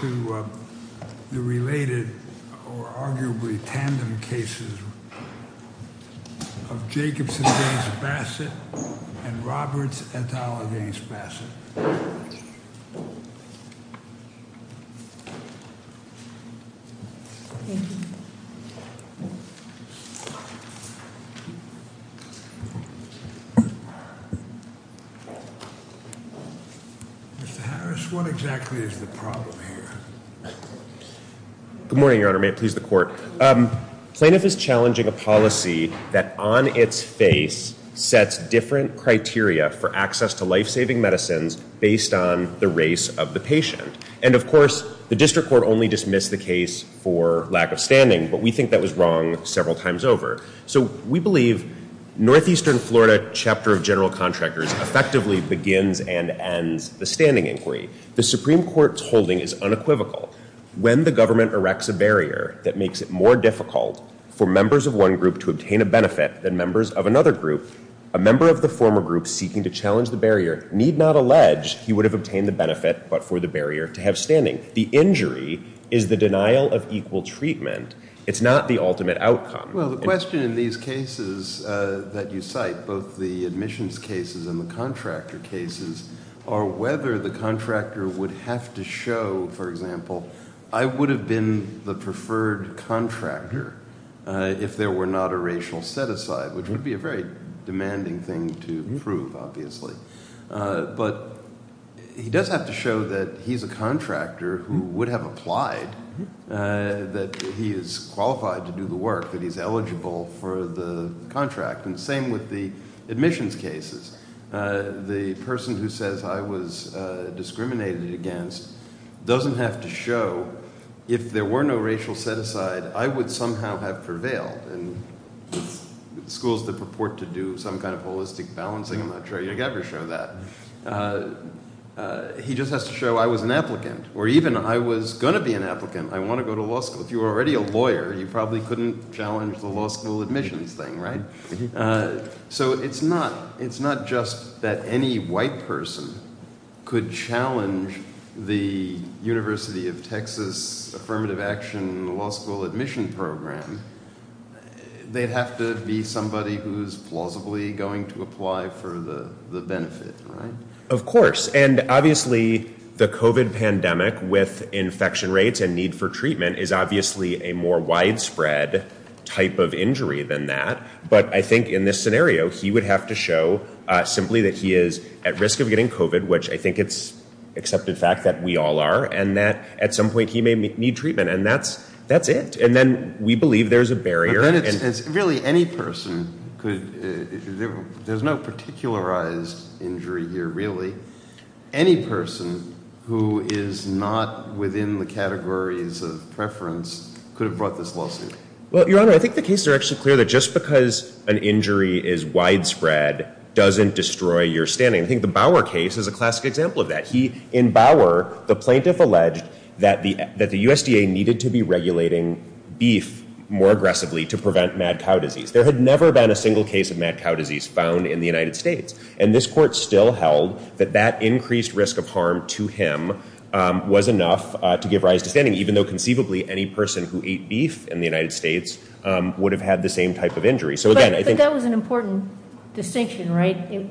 to the related or arguably tandem cases of Jacobson v. Bassett and Roberts et al. v. Good morning, Your Honor. May it please the Court. Plaintiff is challenging a policy that, on its face, sets different criteria for access to life-saving medicines based on the race of the patient. And, of course, the District Court only dismissed the case for lack of standing, but we think that was wrong several times over. So we believe Northeastern Florida Chapter of General Contractors effectively begins and ends the standing inquiry. The Supreme Court's holding is unequivocal. When the government erects a barrier that makes it more difficult for members of one group to obtain a benefit than members of another group, a member of the former group seeking to challenge the barrier need not allege he would have obtained the benefit but for the barrier to have standing. The injury is the denial of equal treatment. It's not the ultimate outcome. Well, the question in these cases that you cite, both the admissions cases and the contractor cases, are whether the contractor would have to show, for example, I would have been the preferred contractor if there were not a racial set-aside, which would be a very demanding thing to prove, obviously. But he does have to show that he's a contractor who would have applied, that he is qualified to do the work, that he's eligible for the contract. And the same with the admissions cases. The person who says I was discriminated against doesn't have to show if there were no racial set-aside, I would somehow have prevailed. And schools that purport to do some kind of holistic balancing, I'm not sure you'd ever show that. He just has to show I was an applicant, or even I was going to be an applicant. I want to go to law school. If you were already a lawyer, you probably couldn't challenge the law school admissions thing, right? So it's not just that any white person could challenge the University of Texas Affirmative Action Law School Admission Program. They'd have to be somebody who's plausibly going to apply for the benefit, right? Of course. And obviously, the COVID pandemic with infection rates and need for treatment is obviously a more widespread type of injury than that. But I think in this scenario, he would have to show simply that he is at risk of getting COVID, which I think it's accepted fact that we all are and that at some point he may need treatment. And that's that's it. And then we believe there's a barrier. And it's really any person could. There's no particularized injury here, really. Any person who is not within the categories of preference could have brought this lawsuit. Well, Your Honor, I think the cases are actually clear that just because an injury is widespread doesn't destroy your standing. I think the Bauer case is a classic example of that. In Bauer, the plaintiff alleged that the USDA needed to be regulating beef more aggressively to prevent mad cow disease. There had never been a single case of mad cow disease found in the United States. And this court still held that that increased risk of harm to him was enough to give rise to standing, even though conceivably any person who ate beef in the United States would have had the same type of injury. So, again, I think that was an important distinction. Right.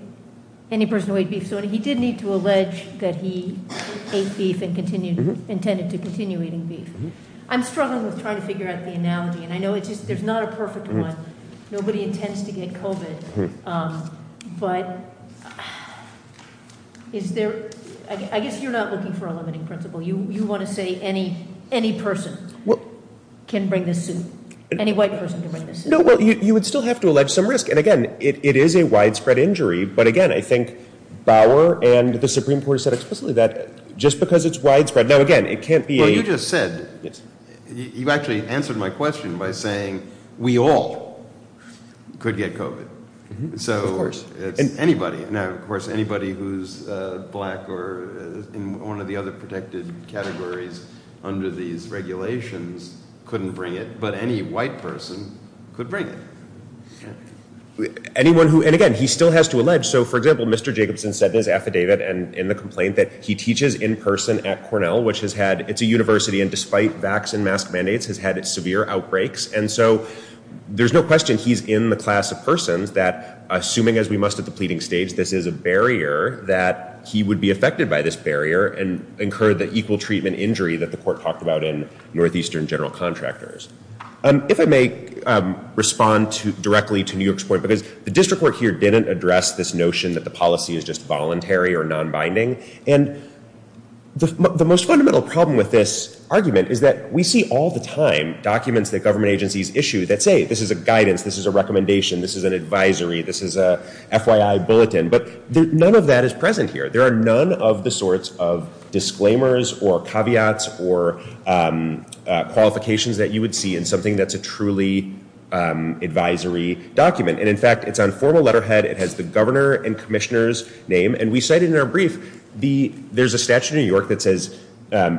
Any person who ate beef. So he did need to allege that he ate beef and continued intended to continue eating beef. I'm struggling with trying to figure out the analogy. And I know it's just there's not a perfect one. Nobody intends to get COVID. But is there. I guess you're not looking for a limiting principle. You want to say any person can bring this suit. Any white person can bring this suit. No, well, you would still have to allege some risk. And again, it is a widespread injury. But again, I think Bauer and the Supreme Court said explicitly that just because it's widespread. Now, again, it can't be a. Well, you just said. You actually answered my question by saying we all could get COVID. So, of course, anybody now, of course, anybody who's black or in one of the other protected categories under these regulations couldn't bring it. But any white person could bring it. Anyone who. And again, he still has to allege. So, for example, Mr. Jacobson said his affidavit. And in the complaint that he teaches in person at Cornell, which has had it's a university. And despite vaccine mask mandates, has had severe outbreaks. And so there's no question he's in the class of persons that, assuming as we must at the pleading stage, this is a barrier that he would be affected by this barrier and incur the equal treatment injury that the court talked about in Northeastern general contractors. If I may respond directly to New York's point, because the district court here didn't address this notion that the policy is just voluntary or non-binding. And the most fundamental problem with this argument is that we see all the time documents that government agencies issue that say this is a guidance. This is a recommendation. This is an advisory. This is a FYI bulletin. But none of that is present here. There are none of the sorts of disclaimers or caveats or qualifications that you would see in something that's a truly advisory document. And in fact, it's on formal letterhead. It has the governor and commissioner's name. And we cite it in our brief. There's a statute in New York that says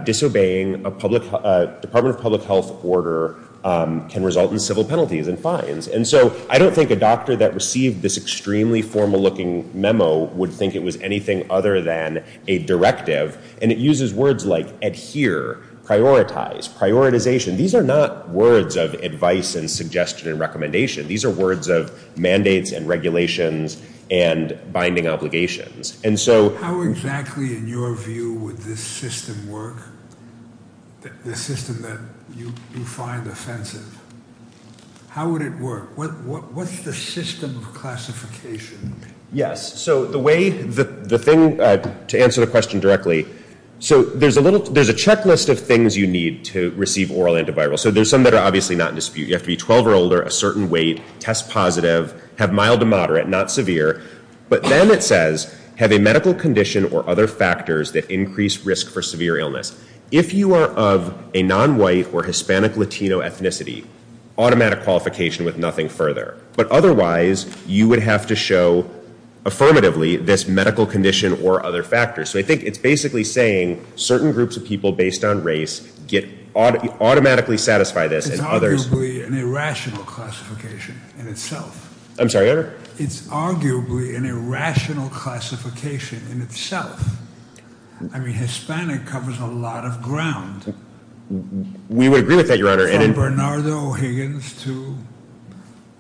disobeying a Department of Public Health order can result in civil penalties and fines. And so I don't think a doctor that received this extremely formal looking memo would think it was anything other than a directive. And it uses words like adhere, prioritize, prioritization. These are not words of advice and suggestion and recommendation. These are words of mandates and regulations and binding obligations. And so how exactly in your view would this system work, the system that you find offensive? How would it work? What's the system of classification? Yes. So the way the thing to answer the question directly. So there's a little there's a checklist of things you need to receive oral antiviral. So there's some that are obviously not in dispute. You have to be 12 or older, a certain weight, test positive, have mild to moderate, not severe. But then it says have a medical condition or other factors that increase risk for severe illness. If you are of a nonwhite or Hispanic Latino ethnicity, automatic qualification with nothing further. But otherwise, you would have to show affirmatively this medical condition or other factors. So I think it's basically saying certain groups of people based on race get automatically satisfy this. It's arguably an irrational classification in itself. I'm sorry, Your Honor? It's arguably an irrational classification in itself. I mean, Hispanic covers a lot of ground. We would agree with that, Your Honor. From Bernardo Higgins to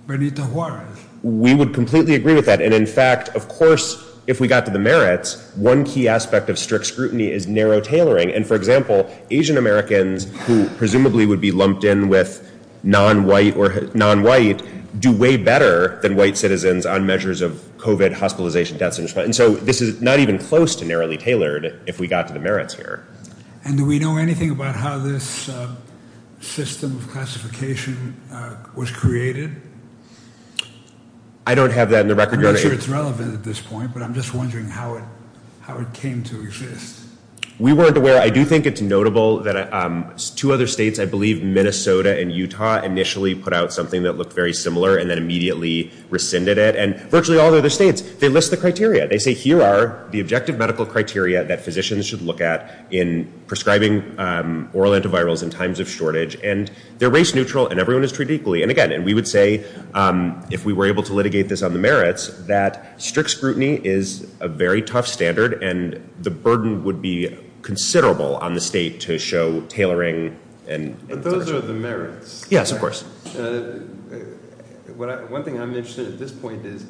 Bernita Juarez. We would completely agree with that. And in fact, of course, if we got to the merits, one key aspect of strict scrutiny is narrow tailoring. And for example, Asian-Americans who presumably would be lumped in with nonwhite or nonwhite do way better than white citizens on measures of COVID hospitalization deaths. And so this is not even close to narrowly tailored if we got to the merits here. And do we know anything about how this system of classification was created? I don't have that on the record, Your Honor. I'm not sure it's relevant at this point, but I'm just wondering how it came to exist. We weren't aware. I do think it's notable that two other states, I believe Minnesota and Utah, initially put out something that looked very similar and then immediately rescinded it. They say, here are the objective medical criteria that physicians should look at in prescribing oral antivirals in times of shortage. And they're race neutral, and everyone is treated equally. And again, we would say, if we were able to litigate this on the merits, that strict scrutiny is a very tough standard. And the burden would be considerable on the state to show tailoring. But those are the merits. Yes, of course. One thing I'm interested in at this point is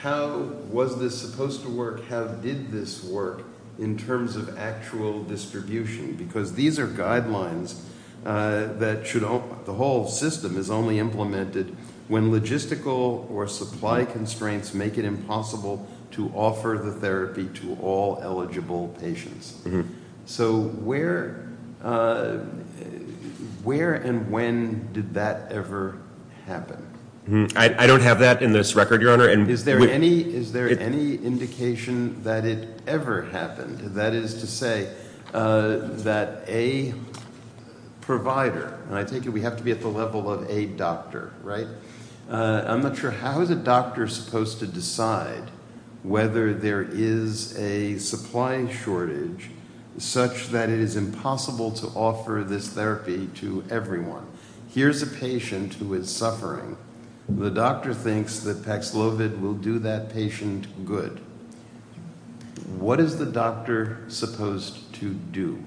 how was this supposed to work? How did this work in terms of actual distribution? Because these are guidelines that should – the whole system is only implemented when logistical or supply constraints make it impossible to offer the therapy to all eligible patients. So where and when did that ever happen? I don't have that in this record, Your Honor. Is there any indication that it ever happened? That is to say that a provider – and I take it we have to be at the level of a doctor, right? I'm not sure. How is a doctor supposed to decide whether there is a supply shortage such that it is impossible to offer this therapy to everyone? Here's a patient who is suffering. The doctor thinks that Paxlovid will do that patient good. What is the doctor supposed to do?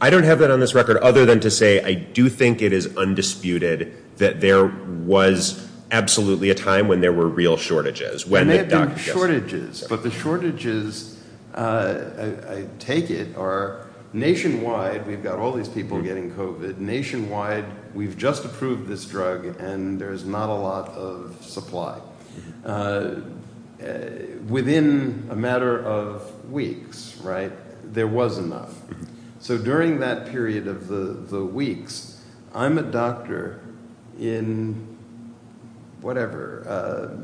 I don't have that on this record other than to say I do think it is undisputed that there was absolutely a time when there were real shortages. There may have been shortages, but the shortages, I take it, are nationwide. We've got all these people getting COVID. Nationwide, we've just approved this drug and there's not a lot of supply. Within a matter of weeks, right, there was enough. So during that period of the weeks, I'm a doctor in whatever,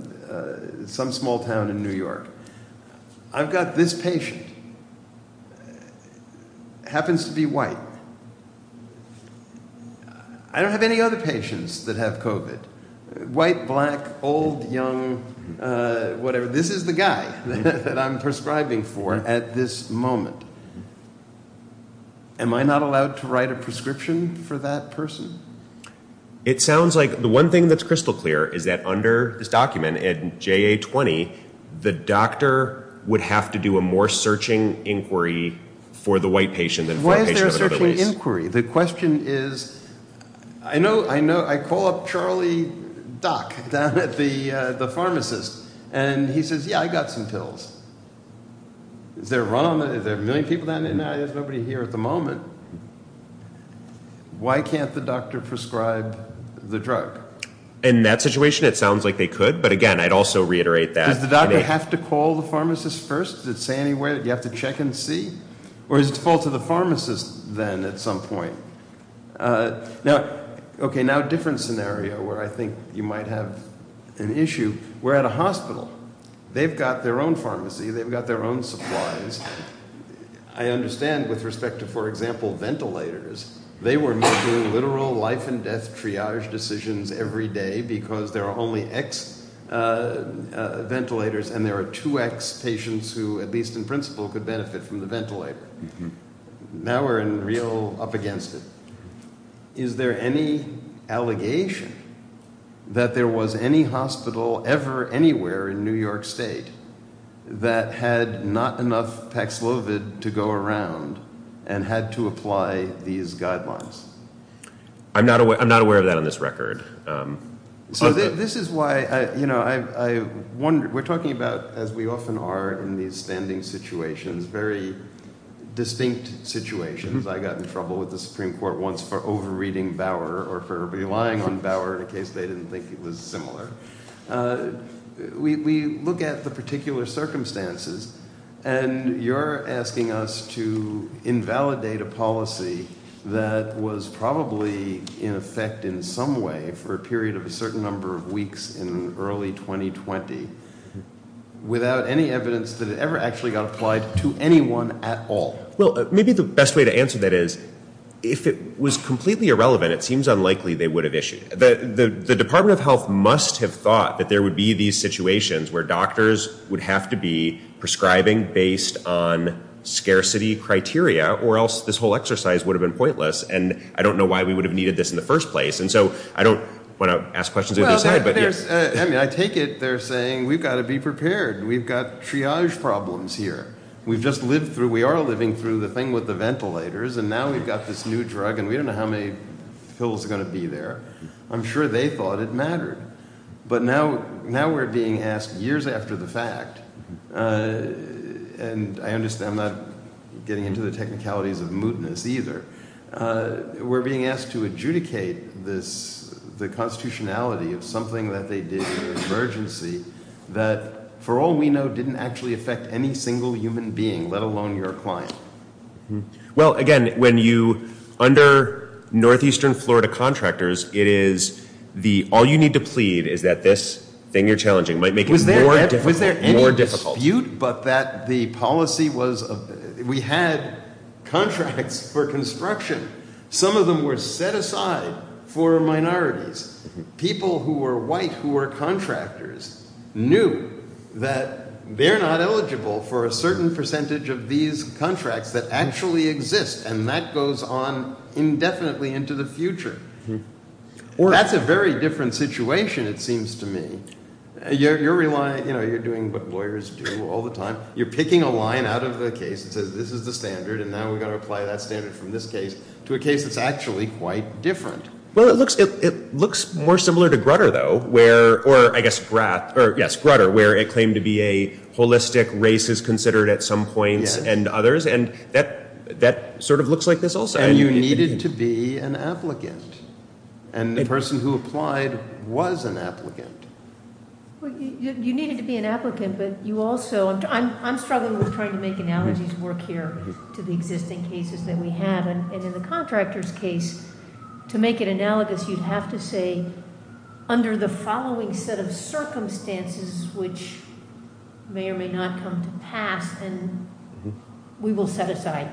some small town in New York. I've got this patient, happens to be white. I don't have any other patients that have COVID. White, black, old, young, whatever. This is the guy that I'm prescribing for at this moment. Am I not allowed to write a prescription for that person? It sounds like the one thing that's crystal clear is that under this document in JA-20, the doctor would have to do a more searching inquiry for the white patient than for a patient of another race. Why is there a searching inquiry? The question is, I call up Charlie Dock down at the pharmacist and he says, yeah, I got some pills. Is there a run on them? Is there a million people down there now? There's nobody here at the moment. Why can't the doctor prescribe the drug? In that situation, it sounds like they could, but again, I'd also reiterate that. Does the doctor have to call the pharmacist first? Does it say anywhere that you have to check and see? Or is it the fault of the pharmacist then at some point? Okay, now a different scenario where I think you might have an issue. We're at a hospital. They've got their own pharmacy. They've got their own supplies. I understand with respect to, for example, ventilators. They were making literal life and death triage decisions every day because there are only X ventilators and there are two X patients who, at least in principle, could benefit from the ventilator. Now we're in real up against it. Is there any allegation that there was any hospital ever anywhere in New York State that had not enough Pax Lovid to go around and had to apply these guidelines? I'm not aware of that on this record. So this is why I wonder. We're talking about, as we often are in these standing situations, very distinct situations. I got in trouble with the Supreme Court once for over-reading Bauer or for relying on Bauer in a case they didn't think it was similar. We look at the particular circumstances, and you're asking us to invalidate a policy that was probably in effect in some way for a period of a certain number of weeks in early 2020 without any evidence that it ever actually got applied to anyone at all. Well, maybe the best way to answer that is if it was completely irrelevant, it seems unlikely they would have issued it. The Department of Health must have thought that there would be these situations where doctors would have to be prescribing based on scarcity criteria or else this whole exercise would have been pointless. And I don't know why we would have needed this in the first place. And so I don't want to ask questions of either side. I mean, I take it they're saying we've got to be prepared. We've got triage problems here. We've just lived through – we are living through the thing with the ventilators, and now we've got this new drug, and we don't know how many pills are going to be there. I'm sure they thought it mattered. But now we're being asked years after the fact – and I understand I'm not getting into the technicalities of mootness either. We're being asked to adjudicate the constitutionality of something that they did in an emergency that, for all we know, didn't actually affect any single human being, let alone your client. Well, again, when you – under northeastern Florida contractors, it is the – all you need to plead is that this thing you're challenging might make it more difficult. Was there any dispute but that the policy was – we had contracts for construction. Some of them were set aside for minorities. People who were white who were contractors knew that they're not eligible for a certain percentage of these contracts that actually exist, and that goes on indefinitely into the future. That's a very different situation, it seems to me. You're relying – you're doing what lawyers do all the time. You're picking a line out of the case that says this is the standard, and now we've got to apply that standard from this case to a case that's actually quite different. Well, it looks more similar to Grutter, though, where – or, I guess, Grath – or, yes, Grutter, where it claimed to be a holistic race is considered at some points and others. And that sort of looks like this also. And you needed to be an applicant, and the person who applied was an applicant. You needed to be an applicant, but you also – I'm struggling with trying to make analogies work here to the existing cases that we have. And in the contractor's case, to make it analogous, you'd have to say under the following set of circumstances which may or may not come to pass, and we will set aside.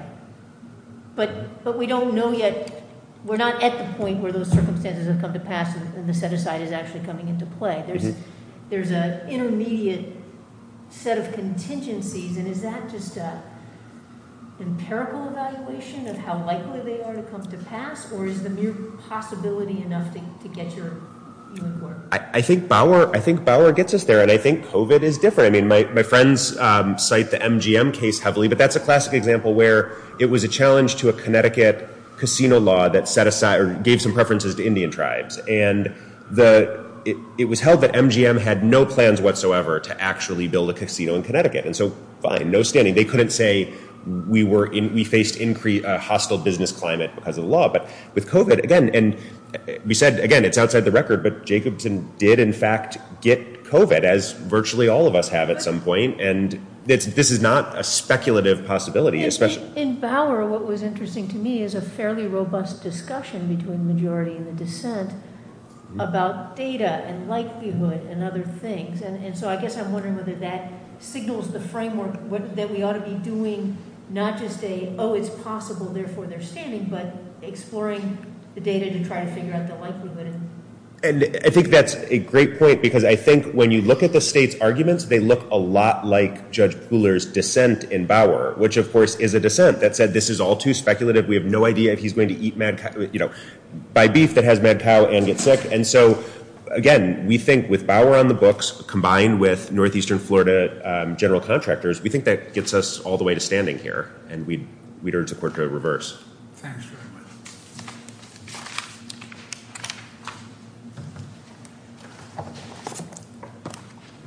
But we don't know yet – we're not at the point where those circumstances have come to pass and the set aside is actually coming into play. There's an intermediate set of contingencies, and is that just an empirical evaluation of how likely they are to come to pass, or is the mere possibility enough to get your – I think Bauer gets us there, and I think COVID is different. I mean, my friends cite the MGM case heavily, but that's a classic example where it was a challenge to a Connecticut casino law that set aside – or gave some preferences to Indian tribes. And it was held that MGM had no plans whatsoever to actually build a casino in Connecticut. And so, fine, no standing. They couldn't say we faced a hostile business climate because of the law. But with COVID, again – and we said, again, it's outside the record, but Jacobson did in fact get COVID, as virtually all of us have at some point, and this is not a speculative possibility. In Bauer, what was interesting to me is a fairly robust discussion between the majority and the dissent about data and likelihood and other things. And so I guess I'm wondering whether that signals the framework that we ought to be doing not just a, oh, it's possible, therefore they're standing, but exploring the data to try to figure out the likelihood. And I think that's a great point, because I think when you look at the state's arguments, they look a lot like Judge Pooler's dissent in Bauer, which of course is a dissent that said this is all too speculative. We have no idea if he's going to eat mad cow – buy beef that has mad cow and get sick. And so, again, we think with Bauer on the books, combined with northeastern Florida general contractors, we think that gets us all the way to standing here. And we'd urge the court to reverse. Thanks very much.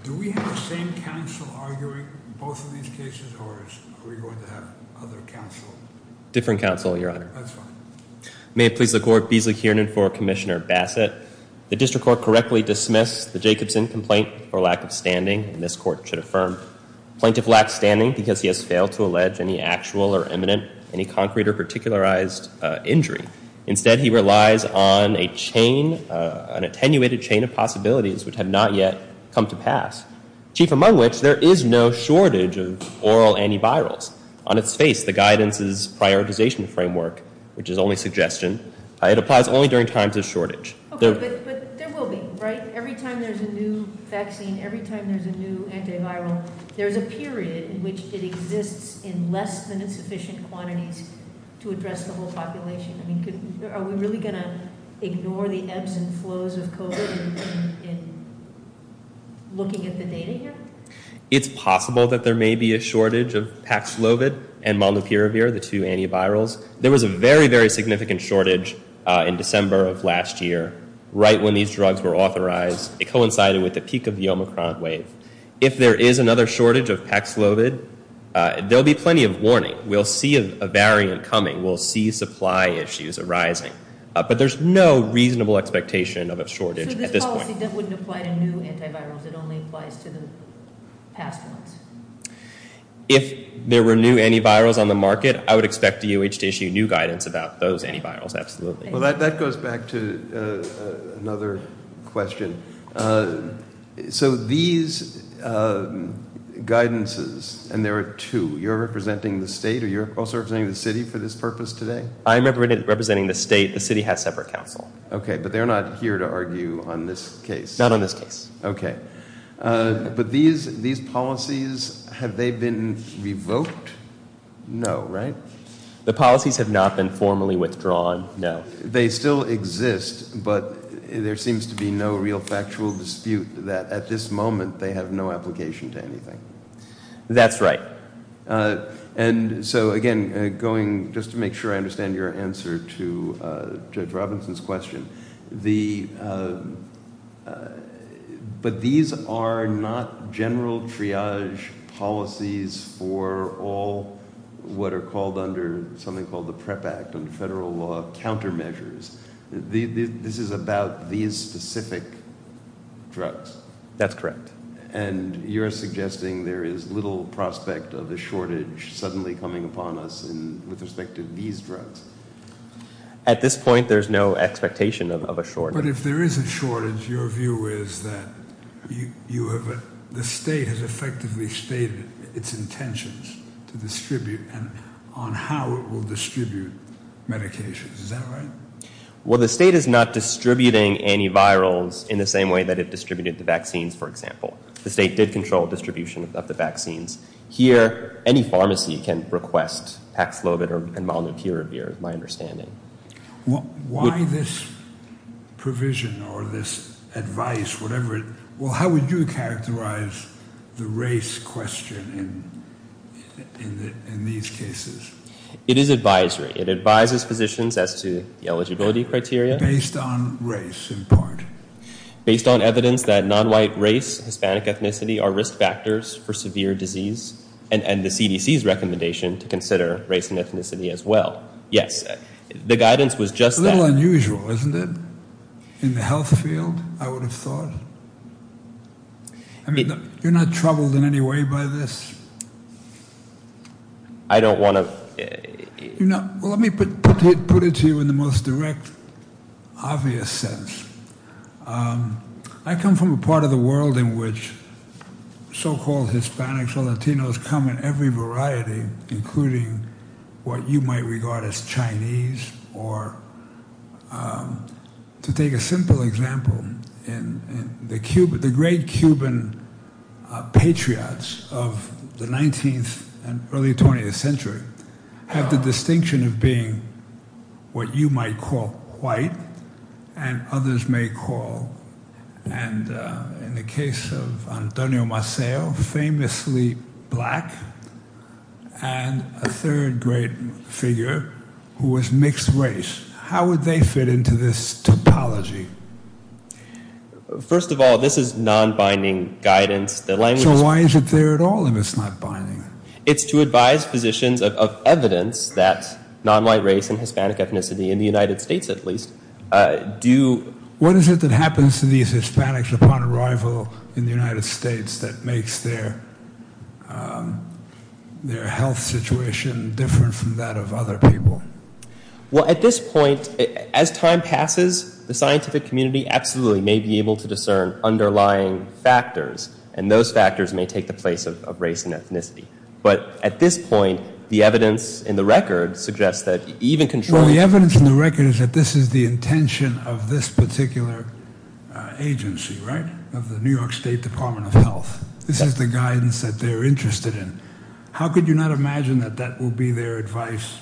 Do we have the same counsel arguing both of these cases, or are we going to have other counsel? Different counsel, Your Honor. That's fine. May it please the court, Beasley Kiernan for Commissioner Bassett. The district court correctly dismissed the Jacobson complaint for lack of standing, and this court should affirm. Plaintiff lacks standing because he has failed to allege any actual or imminent, any concrete or particularized injury. Instead, he relies on a chain, an attenuated chain of possibilities which have not yet come to pass, chief among which there is no shortage of oral antivirals. On its face, the guidance's prioritization framework, which is only suggestion, it applies only during times of shortage. Okay, but there will be, right? Every time there's a new vaccine, every time there's a new antiviral, there's a period in which it exists in less than sufficient quantities to address the whole population. I mean, are we really going to ignore the ebbs and flows of COVID in looking at the data here? It's possible that there may be a shortage of Paxlovid and Molnupiravir, the two antivirals. There was a very, very significant shortage in December of last year, right when these drugs were authorized. It coincided with the peak of the Omicron wave. If there is another shortage of Paxlovid, there'll be plenty of warning. We'll see a variant coming. We'll see supply issues arising. But there's no reasonable expectation of a shortage at this point. So this policy wouldn't apply to new antivirals? It only applies to the past ones? If there were new antivirals on the market, I would expect DOH to issue new guidance about those antivirals, absolutely. Well, that goes back to another question. So these guidances, and there are two, you're representing the state or you're also representing the city for this purpose today? I'm representing the state. The city has separate counsel. Okay, but they're not here to argue on this case? Not on this case. Okay. But these policies, have they been revoked? No, right? The policies have not been formally withdrawn, no. They still exist, but there seems to be no real factual dispute that at this moment they have no application to anything. That's right. And so, again, going just to make sure I understand your answer to Judge Robinson's question. But these are not general triage policies for all what are called under something called the PREP Act, under federal law, countermeasures. This is about these specific drugs? That's correct. And you're suggesting there is little prospect of a shortage suddenly coming upon us with respect to these drugs? At this point, there's no expectation of a shortage. But if there is a shortage, your view is that the state has effectively stated its intentions to distribute and on how it will distribute medications. Is that right? Well, the state is not distributing antivirals in the same way that it distributed the vaccines, for example. The state did control distribution of the vaccines. Here, any pharmacy can request Pax Lovett and Molnupiravir, is my understanding. Why this provision or this advice, whatever? Well, how would you characterize the race question in these cases? It is advisory. It advises physicians as to the eligibility criteria. Based on race, in part. Based on evidence that nonwhite race, Hispanic ethnicity are risk factors for severe disease and the CDC's recommendation to consider race and ethnicity as well. Yes. The guidance was just that. A little unusual, isn't it? In the health field, I would have thought. I mean, you're not troubled in any way by this? I don't want to. Let me put it to you in the most direct, obvious sense. I come from a part of the world in which so-called Hispanics or Latinos come in every variety, including what you might regard as Chinese. To take a simple example, the great Cuban patriots of the 19th and early 20th century have the distinction of being what you might call white and others may call, in the case of Antonio Maceo, famously black. And a third great figure who was mixed race. How would they fit into this topology? First of all, this is non-binding guidance. So why is it there at all if it's not binding? It's to advise physicians of evidence that nonwhite race and Hispanic ethnicity, in the United States at least, do... their health situation different from that of other people. Well, at this point, as time passes, the scientific community absolutely may be able to discern underlying factors. And those factors may take the place of race and ethnicity. But at this point, the evidence in the record suggests that even controlling... Well, the evidence in the record is that this is the intention of this particular agency, right? Of the New York State Department of Health. This is the guidance that they're interested in. How could you not imagine that that will be their advice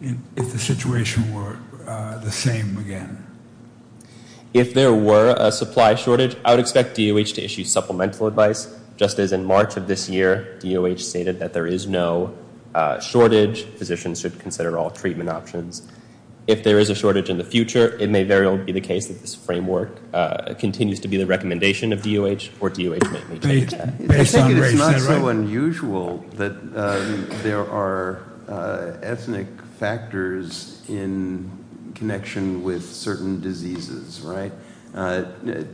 if the situation were the same again? If there were a supply shortage, I would expect DOH to issue supplemental advice. Just as in March of this year, DOH stated that there is no shortage. Physicians should consider all treatment options. If there is a shortage in the future, it may very well be the case that this framework continues to be the recommendation of DOH, or DOH may take that. I think it's not so unusual that there are ethnic factors in connection with certain diseases, right?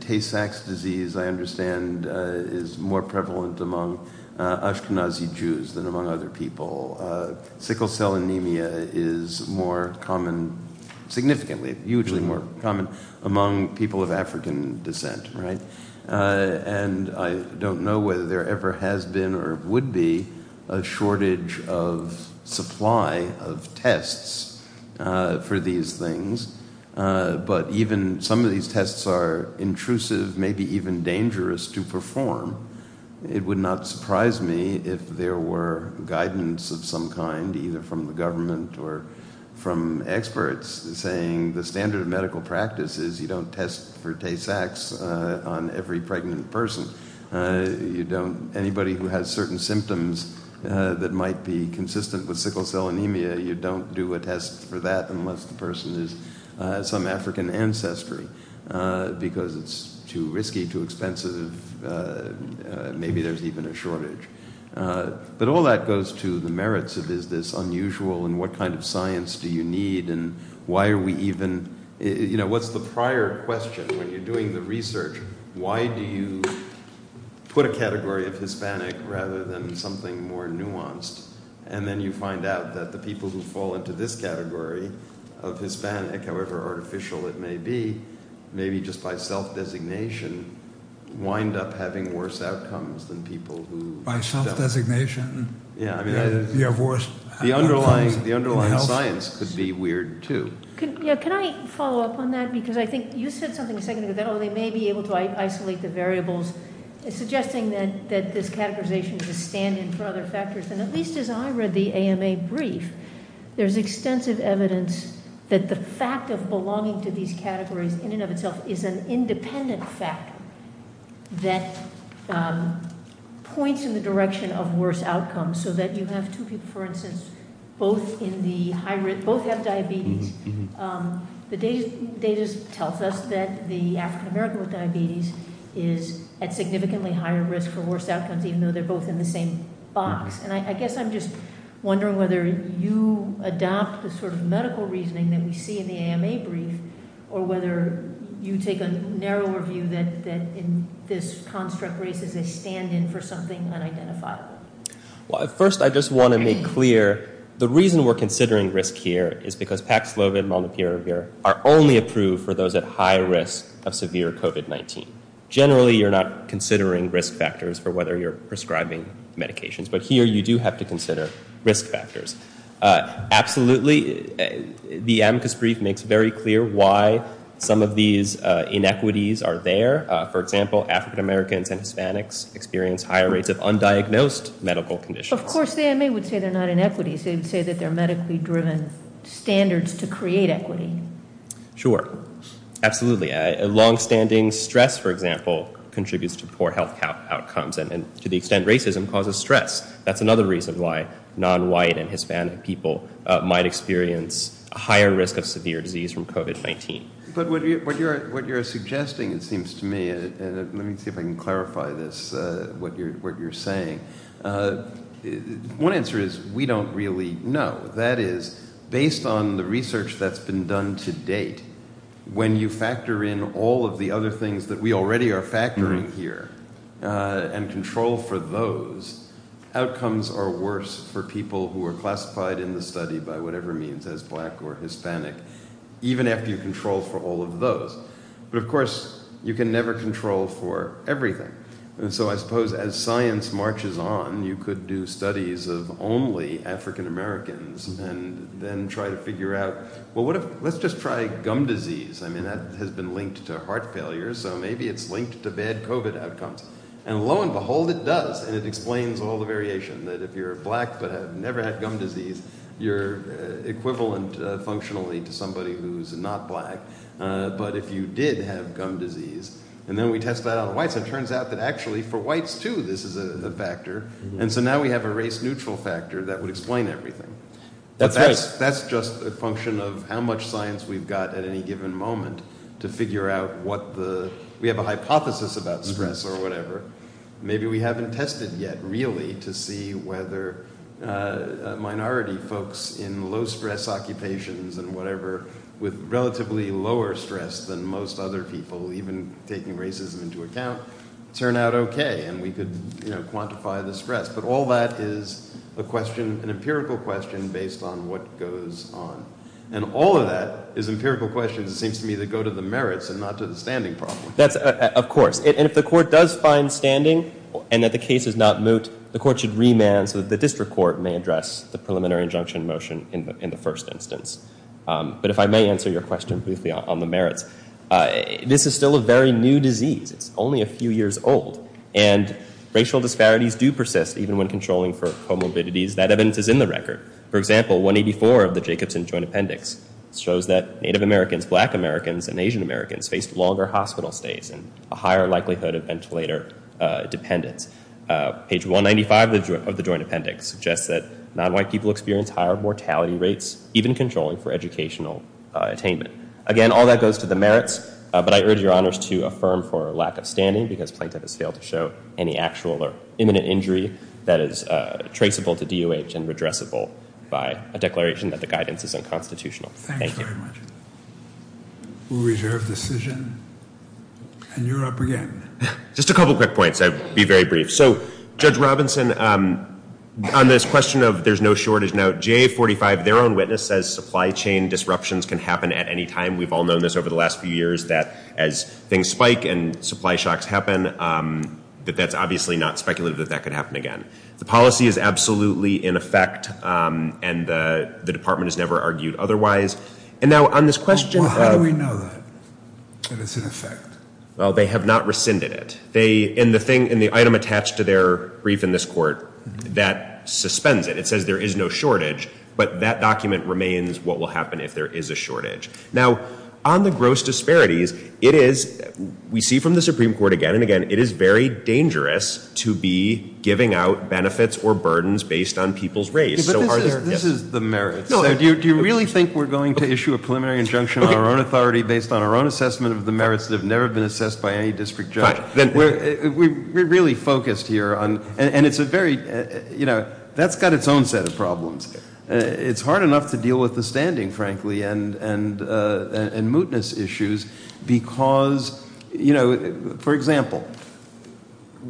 Tay-Sachs disease, I understand, is more prevalent among Ashkenazi Jews than among other people. Sickle cell anemia is more common, significantly, hugely more common among people of African descent, right? And I don't know whether there ever has been or would be a shortage of supply of tests for these things. But even some of these tests are intrusive, maybe even dangerous to perform. It would not surprise me if there were guidance of some kind, either from the government or from experts, saying the standard of medical practice is you don't test for Tay-Sachs on every pregnant person. Anybody who has certain symptoms that might be consistent with sickle cell anemia, you don't do a test for that unless the person is some African ancestry, because it's too risky, too expensive, maybe there's even a shortage. But all that goes to the merits of is this unusual and what kind of science do you need, and why are we even – what's the prior question when you're doing the research? Why do you put a category of Hispanic rather than something more nuanced? And then you find out that the people who fall into this category of Hispanic, however artificial it may be, maybe just by self-designation, wind up having worse outcomes than people who don't. By self-designation, you have worse outcomes. The underlying science could be weird, too. Can I follow up on that? Because I think you said something a second ago that they may be able to isolate the variables, suggesting that this categorization is a stand-in for other factors. And at least as I read the AMA brief, there's extensive evidence that the fact of belonging to these categories in and of itself is an independent factor that points in the direction of worse outcomes, so that you have two people, for instance, both have diabetes. The data tells us that the African American with diabetes is at significantly higher risk for worse outcomes, even though they're both in the same box. And I guess I'm just wondering whether you adopt the sort of medical reasoning that we see in the AMA brief or whether you take a narrower view that in this construct race is a stand-in for something unidentifiable. Well, first I just want to make clear the reason we're considering risk here is because Paxlovi and Malnupiravir are only approved for those at high risk of severe COVID-19. Generally, you're not considering risk factors for whether you're prescribing medications, but here you do have to consider risk factors. Absolutely, the AMCAS brief makes very clear why some of these inequities are there. For example, African Americans and Hispanics experience higher rates of undiagnosed medical conditions. Of course, the AMA would say they're not inequities. They would say that they're medically driven standards to create equity. Sure, absolutely. Longstanding stress, for example, contributes to poor health outcomes and to the extent racism causes stress. That's another reason why non-white and Hispanic people might experience a higher risk of severe disease from COVID-19. But what you're suggesting, it seems to me, and let me see if I can clarify this, what you're saying. One answer is we don't really know. That is, based on the research that's been done to date, when you factor in all of the other things that we already are factoring here and control for those, outcomes are worse for people who are classified in the study by whatever means as black or Hispanic, even after you control for all of those. But, of course, you can never control for everything. So I suppose as science marches on, you could do studies of only African Americans and then try to figure out, well, let's just try gum disease. I mean, that has been linked to heart failure, so maybe it's linked to bad COVID outcomes. And lo and behold, it does. And it explains all the variation that if you're black but have never had gum disease, you're equivalent functionally to somebody who's not black. But if you did have gum disease, and then we test that on whites, it turns out that actually for whites, too, this is a factor. And so now we have a race-neutral factor that would explain everything. But that's just a function of how much science we've got at any given moment to figure out what the – we have a hypothesis about stress or whatever. Maybe we haven't tested yet, really, to see whether minority folks in low-stress occupations and whatever with relatively lower stress than most other people, even taking racism into account, turn out okay. And we could, you know, quantify the stress. But all that is a question – an empirical question based on what goes on. And all of that is empirical questions, it seems to me, that go to the merits and not to the standing problem. That's – of course. And if the court does find standing and that the case is not moot, the court should remand so that the district court may address the preliminary injunction motion in the first instance. But if I may answer your question briefly on the merits, this is still a very new disease. It's only a few years old. And racial disparities do persist, even when controlling for comorbidities. That evidence is in the record. For example, 184 of the Jacobson Joint Appendix shows that Native Americans, Black Americans, and Asian Americans faced longer hospital stays and a higher likelihood of ventilator dependence. Page 195 of the Joint Appendix suggests that nonwhite people experienced higher mortality rates, even controlling for educational attainment. Again, all that goes to the merits. But I urge your honors to affirm for lack of standing because Plaintiff has failed to show any actual or imminent injury that is traceable to DOH and redressable by a declaration that the guidance is unconstitutional. Thank you. Thank you very much. We reserve decision. And you're up again. Just a couple quick points. I'll be very brief. So Judge Robinson, on this question of there's no shortage. Now, JA 45, their own witness says supply chain disruptions can happen at any time. We've all known this over the last few years, that as things spike and supply shocks happen, that that's obviously not speculative that that could happen again. The policy is absolutely in effect. And the department has never argued otherwise. And now on this question. Well, how do we know that it's in effect? Well, they have not rescinded it. And the item attached to their brief in this court, that suspends it. It says there is no shortage. But that document remains what will happen if there is a shortage. Now, on the gross disparities, it is, we see from the Supreme Court again and again, it is very dangerous to be giving out benefits or burdens based on people's race. But this is the merits. Do you really think we're going to issue a preliminary injunction on our own authority based on our own assessment of the merits that have never been assessed by any district judge? We're really focused here on, and it's a very, you know, that's got its own set of problems. It's hard enough to deal with the standing, frankly, and mootness issues because, you know, for example,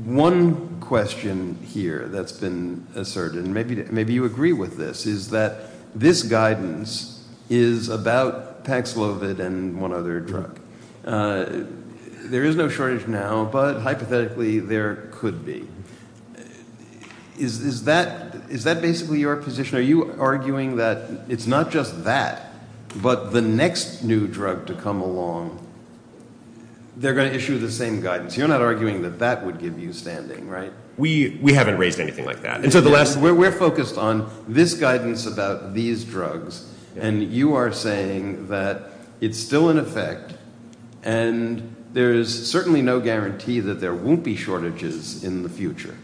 one question here that's been asserted, and maybe you agree with this, is that this guidance is about Pax Lovett and one other drug. There is no shortage now, but hypothetically there could be. Is that basically your position? Are you arguing that it's not just that, but the next new drug to come along, they're going to issue the same guidance? You're not arguing that that would give you standing, right? We haven't raised anything like that. We're focused on this guidance about these drugs, and you are saying that it's still in effect, and there's certainly no guarantee that there won't be shortages in the future.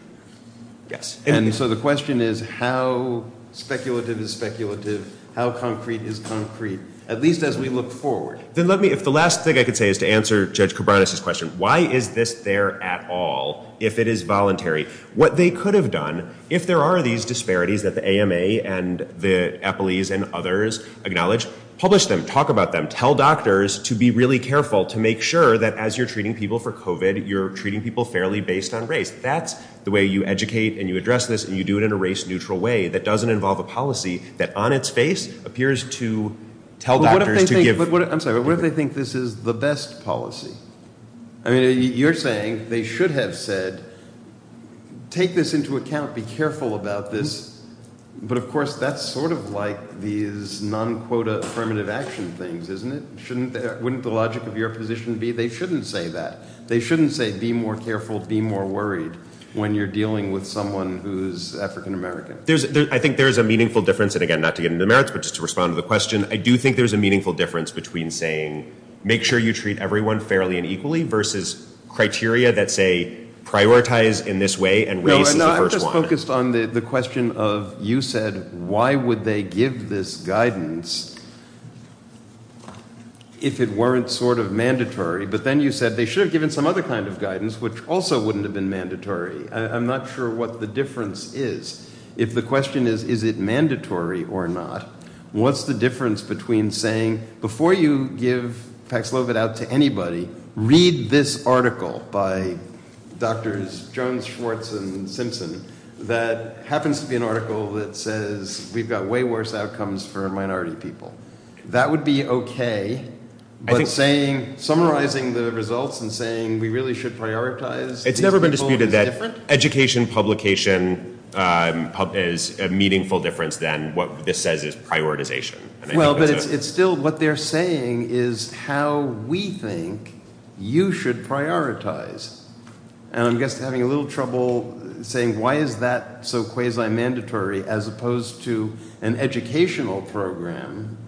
Yes. And so the question is how speculative is speculative, how concrete is concrete, at least as we look forward. Then let me, if the last thing I could say is to answer Judge Koubranis' question, why is this there at all if it is voluntary? What they could have done, if there are these disparities that the AMA and the EPILES and others acknowledge, publish them, talk about them, tell doctors to be really careful to make sure that as you're treating people for COVID, you're treating people fairly based on race. That's the way you educate and you address this, and you do it in a race-neutral way that doesn't involve a policy that on its face appears to tell doctors to give. I'm sorry, but what if they think this is the best policy? I mean, you're saying they should have said take this into account, be careful about this, but of course that's sort of like these non-quota affirmative action things, isn't it? Wouldn't the logic of your position be they shouldn't say that? They shouldn't say be more careful, be more worried when you're dealing with someone who's African-American. I think there is a meaningful difference, and again, not to get into merits, but just to respond to the question. I do think there's a meaningful difference between saying make sure you treat everyone fairly and equally versus criteria that say prioritize in this way and race is the first one. I'm just focused on the question of you said why would they give this guidance if it weren't sort of mandatory, but then you said they should have given some other kind of guidance which also wouldn't have been mandatory. I'm not sure what the difference is. If the question is is it mandatory or not, what's the difference between saying before you give Pax Lovett out to anybody, read this article by Drs. Jones, Schwartz, and Simpson that happens to be an article that says we've got way worse outcomes for minority people. That would be okay, but summarizing the results and saying we really should prioritize these people is different. Education publication is a meaningful difference than what this says is prioritization. Well, but it's still what they're saying is how we think you should prioritize, and I'm just having a little trouble saying why is that so quasi-mandatory as opposed to an educational program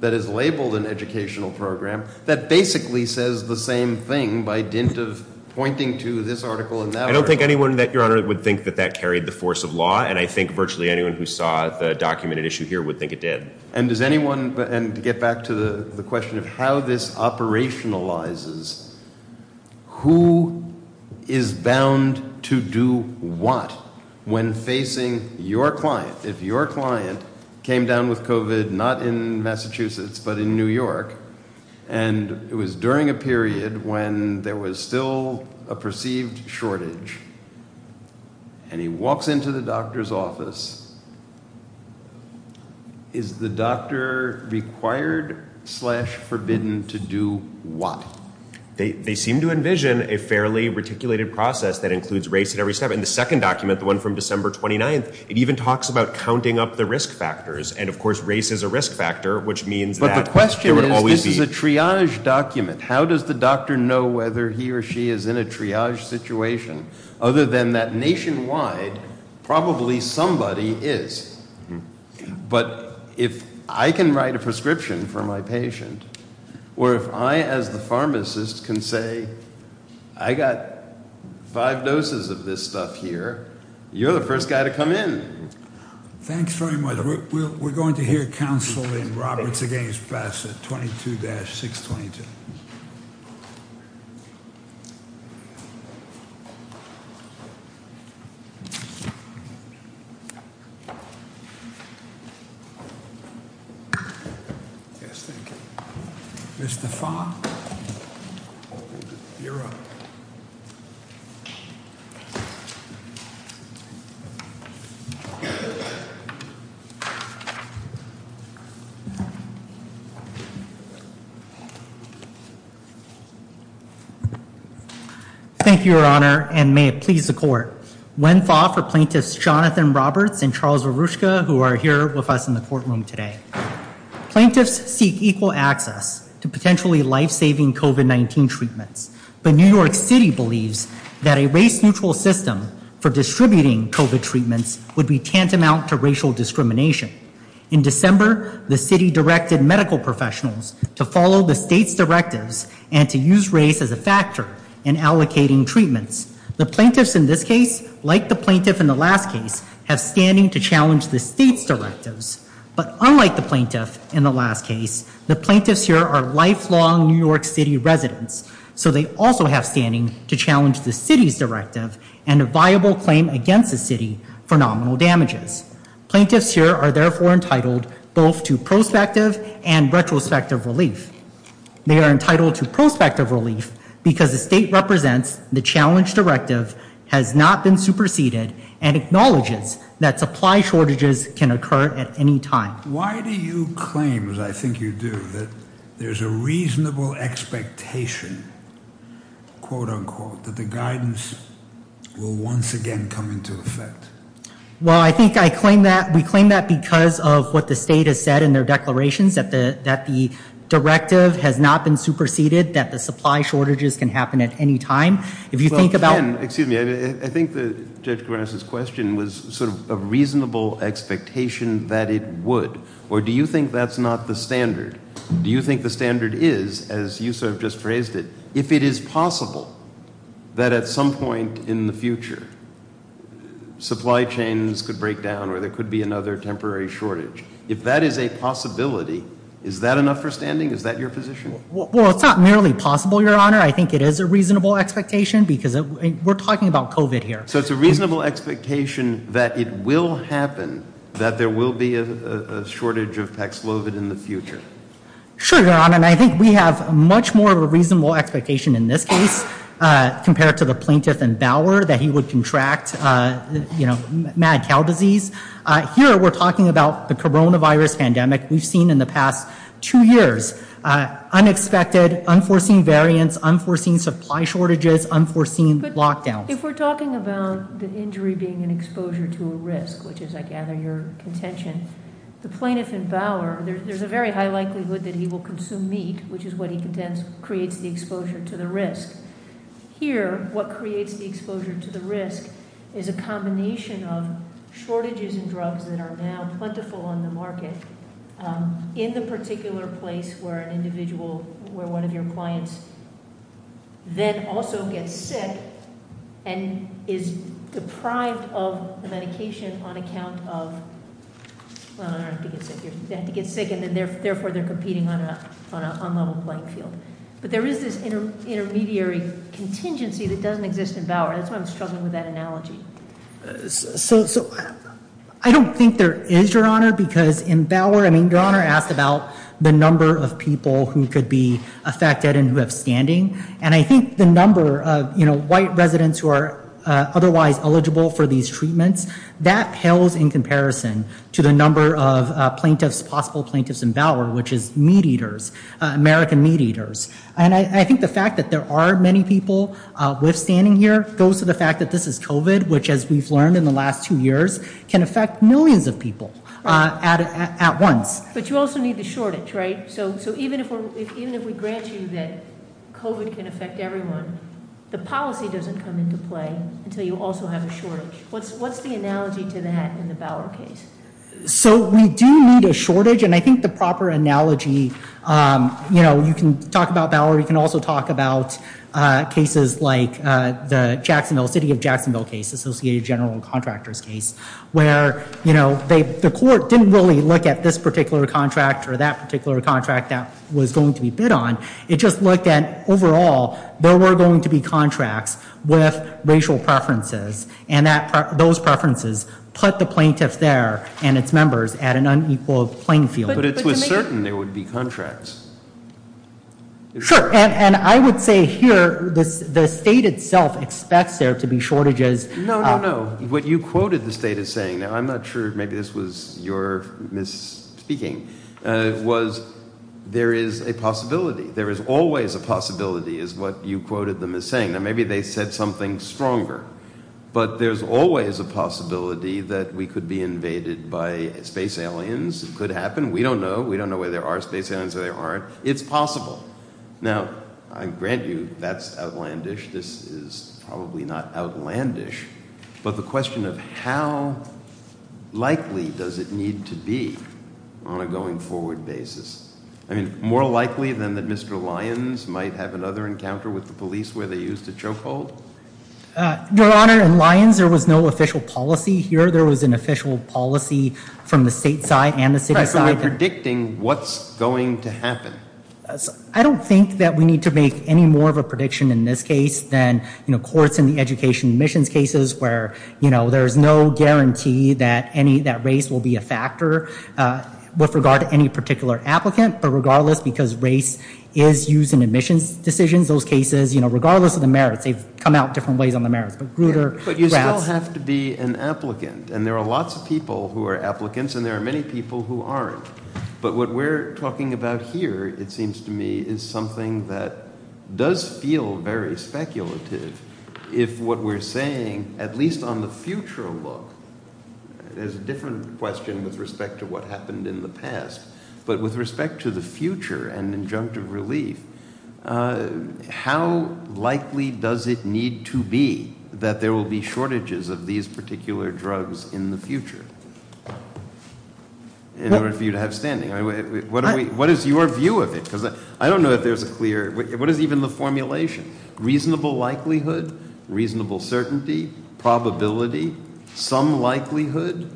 that is labeled an educational program that basically says the same thing by dint of pointing to this article and that article. I don't think anyone, Your Honor, would think that that carried the force of law, and I think virtually anyone who saw the documented issue here would think it did. And to get back to the question of how this operationalizes, who is bound to do what when facing your client? If your client came down with COVID not in Massachusetts but in New York, and it was during a period when there was still a perceived shortage, and he walks into the doctor's office, is the doctor required slash forbidden to do what? They seem to envision a fairly reticulated process that includes race at every step. In the second document, the one from December 29th, it even talks about counting up the risk factors, and, of course, race is a risk factor, which means that there would always be. But the question is, this is a triage document. How does the doctor know whether he or she is in a triage situation other than that nationwide probably somebody is? But if I can write a prescription for my patient, or if I as the pharmacist can say, I got five doses of this stuff here, you're the first guy to come in. Thanks very much. We're going to hear counsel in Roberts against Bassett, 22-622. Yes, thank you. Mr. Fong? You're up. Thank you. Thank you, Your Honor, and may it please the court. When fought for plaintiffs Jonathan Roberts and Charles Arushka, who are here with us in the courtroom today. Plaintiffs seek equal access to potentially life-saving COVID-19 treatments, but New York City believes that a race-neutral system for distributing COVID treatments would be tantamount to racial discrimination. In December, the city directed medical professionals to follow the state's directives and to use race as a factor in allocating treatments. The plaintiffs in this case, like the plaintiff in the last case, have standing to challenge the state's directives. But unlike the plaintiff in the last case, the plaintiffs here are lifelong New York City residents, so they also have standing to challenge the city's directive and a viable claim against the city for nominal damages. Plaintiffs here are therefore entitled both to prospective and retrospective relief. They are entitled to prospective relief because the state represents the challenge directive has not been superseded and acknowledges that supply shortages can occur at any time. Why do you claim, as I think you do, that there's a reasonable expectation, quote unquote, that the guidance will once again come into effect? Well, I think I claim that we claim that because of what the state has said in their declarations, that the directive has not been superseded, that the supply shortages can happen at any time. If you think about- was sort of a reasonable expectation that it would. Or do you think that's not the standard? Do you think the standard is, as you sort of just phrased it, if it is possible that at some point in the future supply chains could break down or there could be another temporary shortage? If that is a possibility, is that enough for standing? Is that your position? Well, it's not merely possible, Your Honor. I think it is a reasonable expectation because we're talking about COVID here. So it's a reasonable expectation that it will happen, that there will be a shortage of Pax Lovit in the future. Sure, Your Honor, and I think we have much more of a reasonable expectation in this case compared to the plaintiff in Bauer that he would contract, you know, mad cow disease. Here we're talking about the coronavirus pandemic we've seen in the past two years. Unexpected, unforeseen variants, unforeseen supply shortages, unforeseen lockdowns. If we're talking about the injury being an exposure to a risk, which is, I gather, your contention, the plaintiff in Bauer, there's a very high likelihood that he will consume meat, which is what he contends creates the exposure to the risk. Here, what creates the exposure to the risk is a combination of shortages in drugs that are now plentiful on the market in the particular place where an individual, where one of your clients then also gets sick and is deprived of the medication on account of, well, they have to get sick, and therefore they're competing on an unlevel playing field. But there is this intermediary contingency that doesn't exist in Bauer. So I don't think there is, Your Honor, because in Bauer, I mean, Your Honor asked about the number of people who could be affected and who have standing, and I think the number of, you know, white residents who are otherwise eligible for these treatments, that pales in comparison to the number of plaintiffs, possible plaintiffs in Bauer, which is meat eaters, American meat eaters. And I think the fact that there are many people withstanding here goes to the fact that this is COVID, which, as we've learned in the last two years, can affect millions of people at once. But you also need the shortage, right? So even if we grant you that COVID can affect everyone, the policy doesn't come into play until you also have a shortage. What's the analogy to that in the Bauer case? So we do need a shortage, and I think the proper analogy, you know, you can talk about Bauer, you can also talk about cases like the Jacksonville, City of Jacksonville case, Associated General Contractors case, where, you know, the court didn't really look at this particular contract or that particular contract that was going to be bid on. It just looked at overall there were going to be contracts with racial preferences, and those preferences put the plaintiffs there and its members at an unequal playing field. But it was certain there would be contracts. Sure, and I would say here the state itself expects there to be shortages. No, no, no. What you quoted the state as saying, now I'm not sure, maybe this was your misspeaking, was there is a possibility. There is always a possibility is what you quoted them as saying. Now maybe they said something stronger, but there's always a possibility that we could be invaded by space aliens. It could happen. We don't know. We don't know whether there are space aliens or there aren't. It's possible. Now, I grant you that's outlandish. This is probably not outlandish, but the question of how likely does it need to be on a going forward basis. I mean, more likely than that Mr. Lyons might have another encounter with the police where they used a chokehold? Your Honor, in Lyons there was no official policy. Here there was an official policy from the state side and the city side. Right, so we're predicting what's going to happen. I don't think that we need to make any more of a prediction in this case than courts in the education admissions cases where there's no guarantee that race will be a factor with regard to any particular applicant. But regardless, because race is used in admissions decisions, those cases, regardless of the merits, they've come out different ways on the merits. But you still have to be an applicant, and there are lots of people who are applicants, and there are many people who aren't. But what we're talking about here, it seems to me, is something that does feel very speculative if what we're saying, at least on the future look, there's a different question with respect to what happened in the past, but with respect to the future and injunctive relief, how likely does it need to be that there will be shortages of these particular drugs in the future in order for you to have standing? What is your view of it? Because I don't know if there's a clear – what is even the formulation? Reasonable likelihood, reasonable certainty, probability, some likelihood,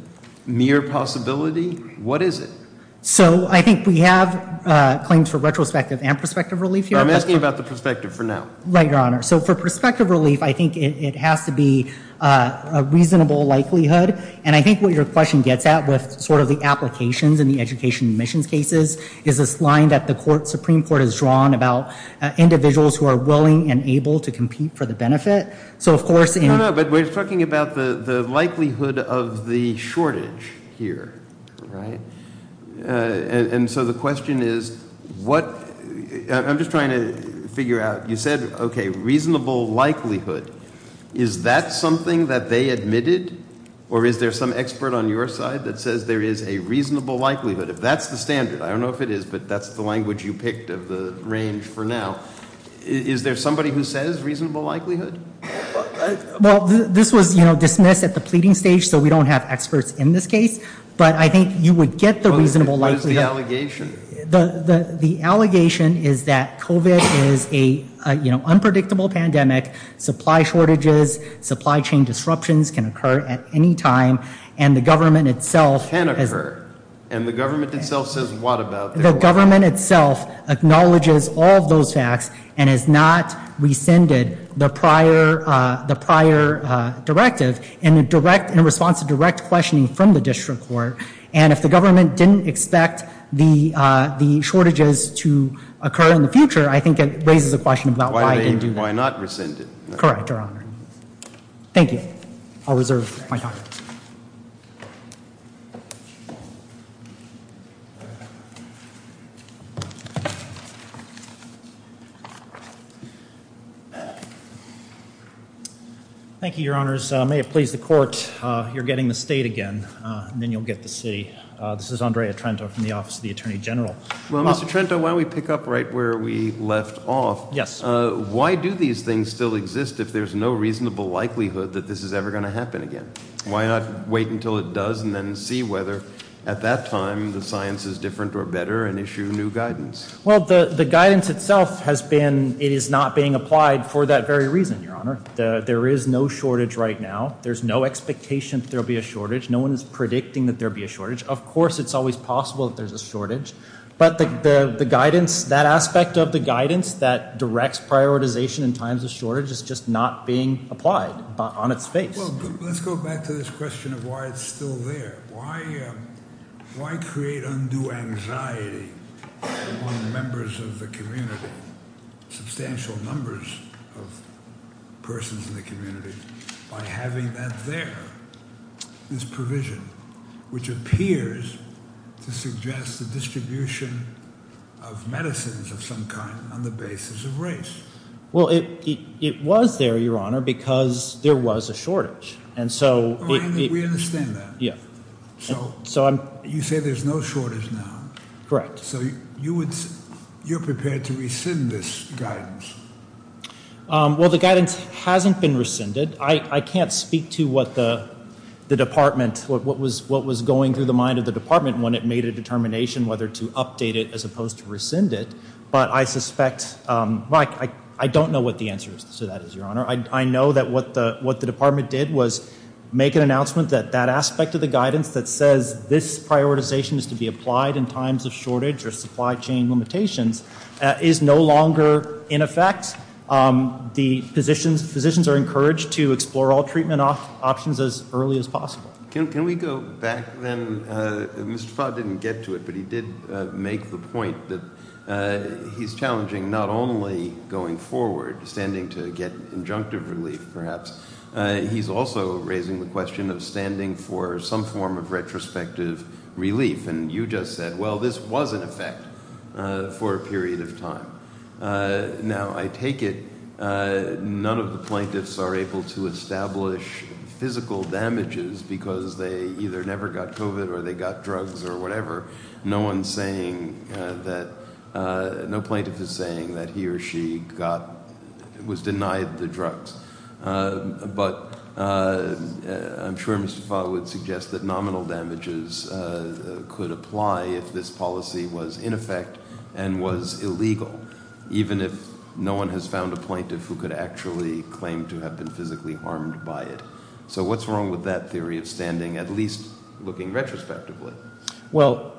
near possibility? What is it? So I think we have claims for retrospective and prospective relief here. I'm asking about the prospective for now. Right, Your Honor. So for prospective relief, I think it has to be a reasonable likelihood, and I think what your question gets at with sort of the applications in the education admissions cases is this line that the Supreme Court has drawn about individuals who are willing and able to compete for the benefit. So of course – No, no, but we're talking about the likelihood of the shortage here. Right. And so the question is what – I'm just trying to figure out. You said, okay, reasonable likelihood. Is that something that they admitted, or is there some expert on your side that says there is a reasonable likelihood? If that's the standard, I don't know if it is, but that's the language you picked of the range for now. Is there somebody who says reasonable likelihood? Well, this was dismissed at the pleading stage, so we don't have experts in this case, but I think you would get the reasonable likelihood. What is the allegation? The allegation is that COVID is an unpredictable pandemic. Supply shortages, supply chain disruptions can occur at any time, and the government itself – And the government itself says what about – The government itself acknowledges all of those facts and has not rescinded the prior directive in response to direct questioning from the district court, and if the government didn't expect the shortages to occur in the future, I think it raises a question about why it didn't do that. Why not rescind it? Correct, Your Honor. Thank you. I'll reserve my time. Thank you. Thank you, Your Honors. May it please the court, you're getting the state again, and then you'll get the city. This is Andrea Trento from the Office of the Attorney General. Well, Mr. Trento, why don't we pick up right where we left off. Yes. Why do these things still exist if there's no reasonable likelihood that this is ever going to happen again? Why not wait until it does and then see whether at that time the science is different or better and issue new guidance? Well, the guidance itself has been – it is not being applied for that very reason, Your Honor. There is no shortage right now. There's no expectation that there will be a shortage. No one is predicting that there will be a shortage. Of course it's always possible that there's a shortage, but the guidance – that aspect of the guidance that directs prioritization in times of shortage is just not being applied on its face. Well, let's go back to this question of why it's still there. Why create undue anxiety among members of the community, substantial numbers of persons in the community, by having that there, this provision, which appears to suggest the distribution of medicines of some kind on the basis of race? Well, it was there, Your Honor, because there was a shortage. And so – We understand that. Yeah. So you say there's no shortage now. Correct. So you're prepared to rescind this guidance? Well, the guidance hasn't been rescinded. I can't speak to what the department – what was going through the mind of the department when it made a determination whether to update it as opposed to rescind it. But I suspect – well, I don't know what the answer to that is, Your Honor. I know that what the department did was make an announcement that that aspect of the guidance that says this prioritization is to be applied in times of shortage or supply chain limitations is no longer in effect. The physicians are encouraged to explore all treatment options as early as possible. Can we go back then? Mr. Fott didn't get to it, but he did make the point that he's challenging not only going forward, standing to get injunctive relief perhaps. He's also raising the question of standing for some form of retrospective relief. And you just said, well, this was in effect for a period of time. Now, I take it none of the plaintiffs are able to establish physical damages because they either never got COVID or they got drugs or whatever. No one's saying that – no plaintiff is saying that he or she got – was denied the drugs. But I'm sure Mr. Fott would suggest that nominal damages could apply if this policy was in effect and was illegal, even if no one has found a plaintiff who could actually claim to have been physically harmed by it. So what's wrong with that theory of standing, at least looking retrospectively? Well,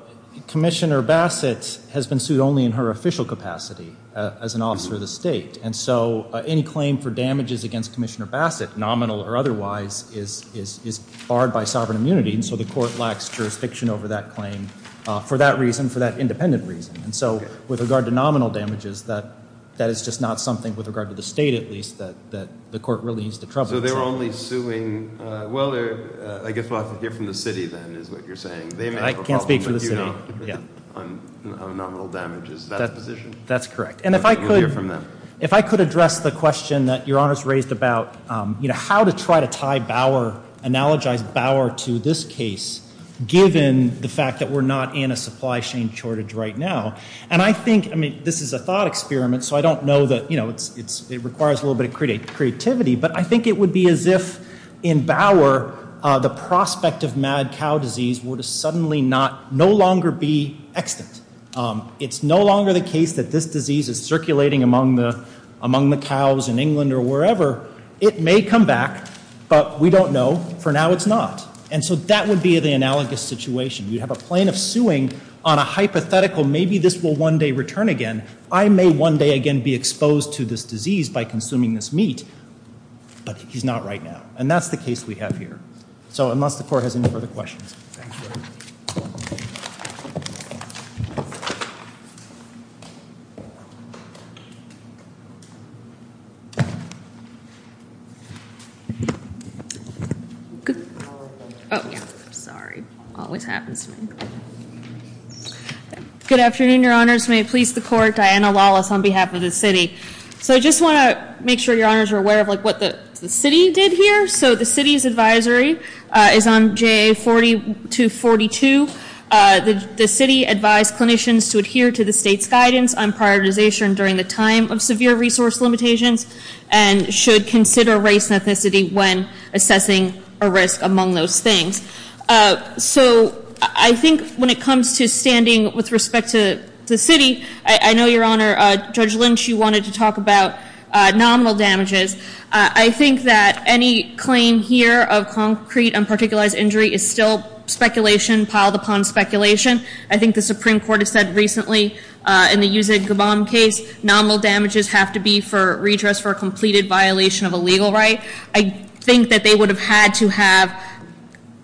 Commissioner Bassett has been sued only in her official capacity as an officer of the state. And so any claim for damages against Commissioner Bassett, nominal or otherwise, is barred by sovereign immunity. And so the court lacks jurisdiction over that claim for that reason, for that independent reason. And so with regard to nominal damages, that is just not something, with regard to the state at least, that the court really needs to trouble. So they were only suing – well, I guess we'll have to hear from the city then is what you're saying. I can't speak for the city. They may have a problem, but you don't on nominal damages. Is that the position? That's correct. We'll hear from them. If I could address the question that Your Honor has raised about how to try to tie Bauer, analogize Bauer to this case, given the fact that we're not in a supply chain shortage right now. And I think – I mean, this is a thought experiment, so I don't know that – it requires a little bit of creativity. But I think it would be as if in Bauer the prospect of mad cow disease would suddenly not – no longer be extant. It's no longer the case that this disease is circulating among the cows in England or wherever. It may come back, but we don't know. For now it's not. And so that would be the analogous situation. You'd have a plaintiff suing on a hypothetical, maybe this will one day return again. I may one day again be exposed to this disease by consuming this meat, but he's not right now. And that's the case we have here. So unless the court has any further questions. Thank you. Thank you. Sorry. Always happens to me. Good afternoon, Your Honors. May it please the court. Diana Lawless on behalf of the city. So I just want to make sure Your Honors are aware of what the city did here. So the city's advisory is on JA 4242. The city advised clinicians to adhere to the state's guidance on prioritization during the time of severe resource limitations and should consider race and ethnicity when assessing a risk among those things. So I think when it comes to standing with respect to the city, I know, Your Honor, Judge Lynch, you wanted to talk about nominal damages. I think that any claim here of concrete unparticulized injury is still speculation piled upon speculation. I think the Supreme Court has said recently in the Yuseg Gabam case, nominal damages have to be for redress for a completed violation of a legal right. I think that they would have had to have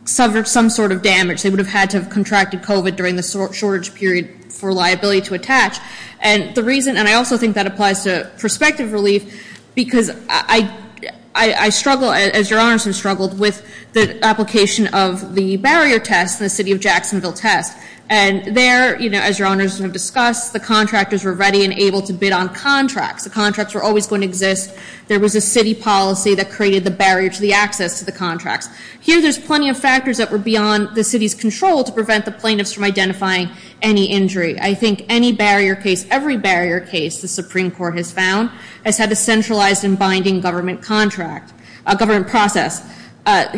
suffered some sort of damage. They would have had to have contracted COVID during the shortage period for liability to attach. And I also think that applies to prospective relief because I struggle, as Your Honors have struggled, with the application of the barrier test in the city of Jacksonville test. And there, as Your Honors have discussed, the contractors were ready and able to bid on contracts. The contracts were always going to exist. There was a city policy that created the barrier to the access to the contracts. Here there's plenty of factors that were beyond the city's control to prevent the plaintiffs from identifying any injury. I think any barrier case, every barrier case the Supreme Court has found, has had a centralized and binding government contract, government process.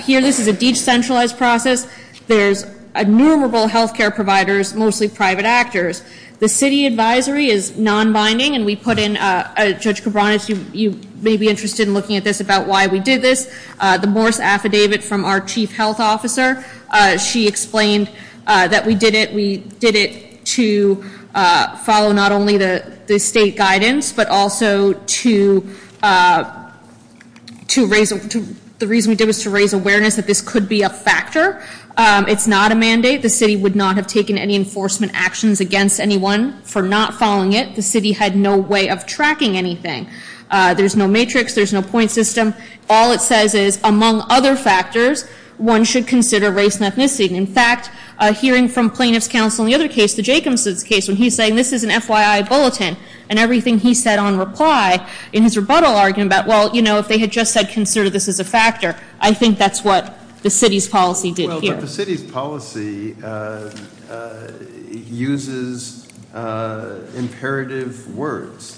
Here this is a decentralized process. There's innumerable health care providers, mostly private actors. The city advisory is non-binding, and we put in, Judge Cabranes, you may be interested in looking at this about why we did this. The Morse Affidavit from our chief health officer, she explained that we did it. to follow not only the state guidance, but also to raise awareness that this could be a factor. It's not a mandate. The city would not have taken any enforcement actions against anyone for not following it. The city had no way of tracking anything. There's no matrix. There's no point system. All it says is, among other factors, one should consider race and ethnicity. In fact, hearing from plaintiff's counsel in the other case, the Jacobson's case, when he's saying this is an FYI bulletin, and everything he said on reply in his rebuttal argument about, well, you know, if they had just said consider this as a factor, I think that's what the city's policy did here. Well, but the city's policy uses imperative words.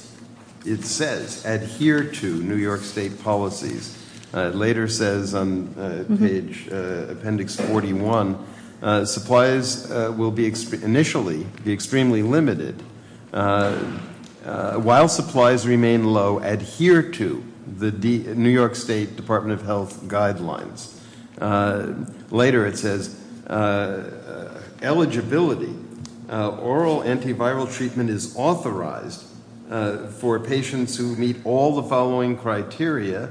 It says adhere to New York State policies. It later says on page appendix 41, supplies will be initially be extremely limited. While supplies remain low, adhere to the New York State Department of Health guidelines. Later it says eligibility, oral antiviral treatment is authorized for patients who meet all the following criteria.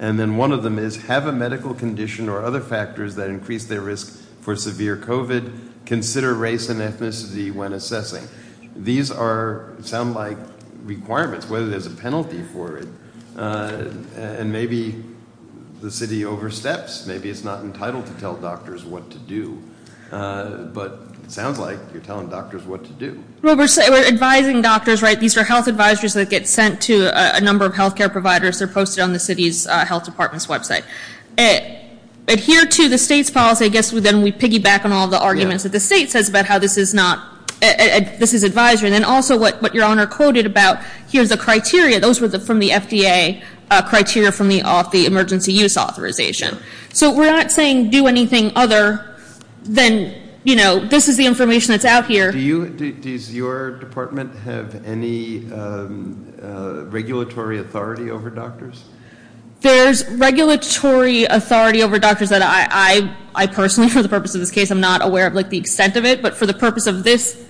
And then one of them is have a medical condition or other factors that increase their risk for severe COVID. Consider race and ethnicity when assessing. These sound like requirements, whether there's a penalty for it. And maybe the city oversteps. Maybe it's not entitled to tell doctors what to do. But it sounds like you're telling doctors what to do. Well, we're advising doctors, right? These are health advisories that get sent to a number of health care providers. They're posted on the city's health department's website. Adhere to the state's policy. I guess then we piggyback on all the arguments that the state says about how this is not, this is advisory. And then also what your honor quoted about, here's the criteria. Those were from the FDA criteria from the emergency use authorization. So we're not saying do anything other than, you know, this is the information that's out here. Does your department have any regulatory authority over doctors? There's regulatory authority over doctors that I personally, for the purpose of this case, I'm not aware of the extent of it. But for the purpose of this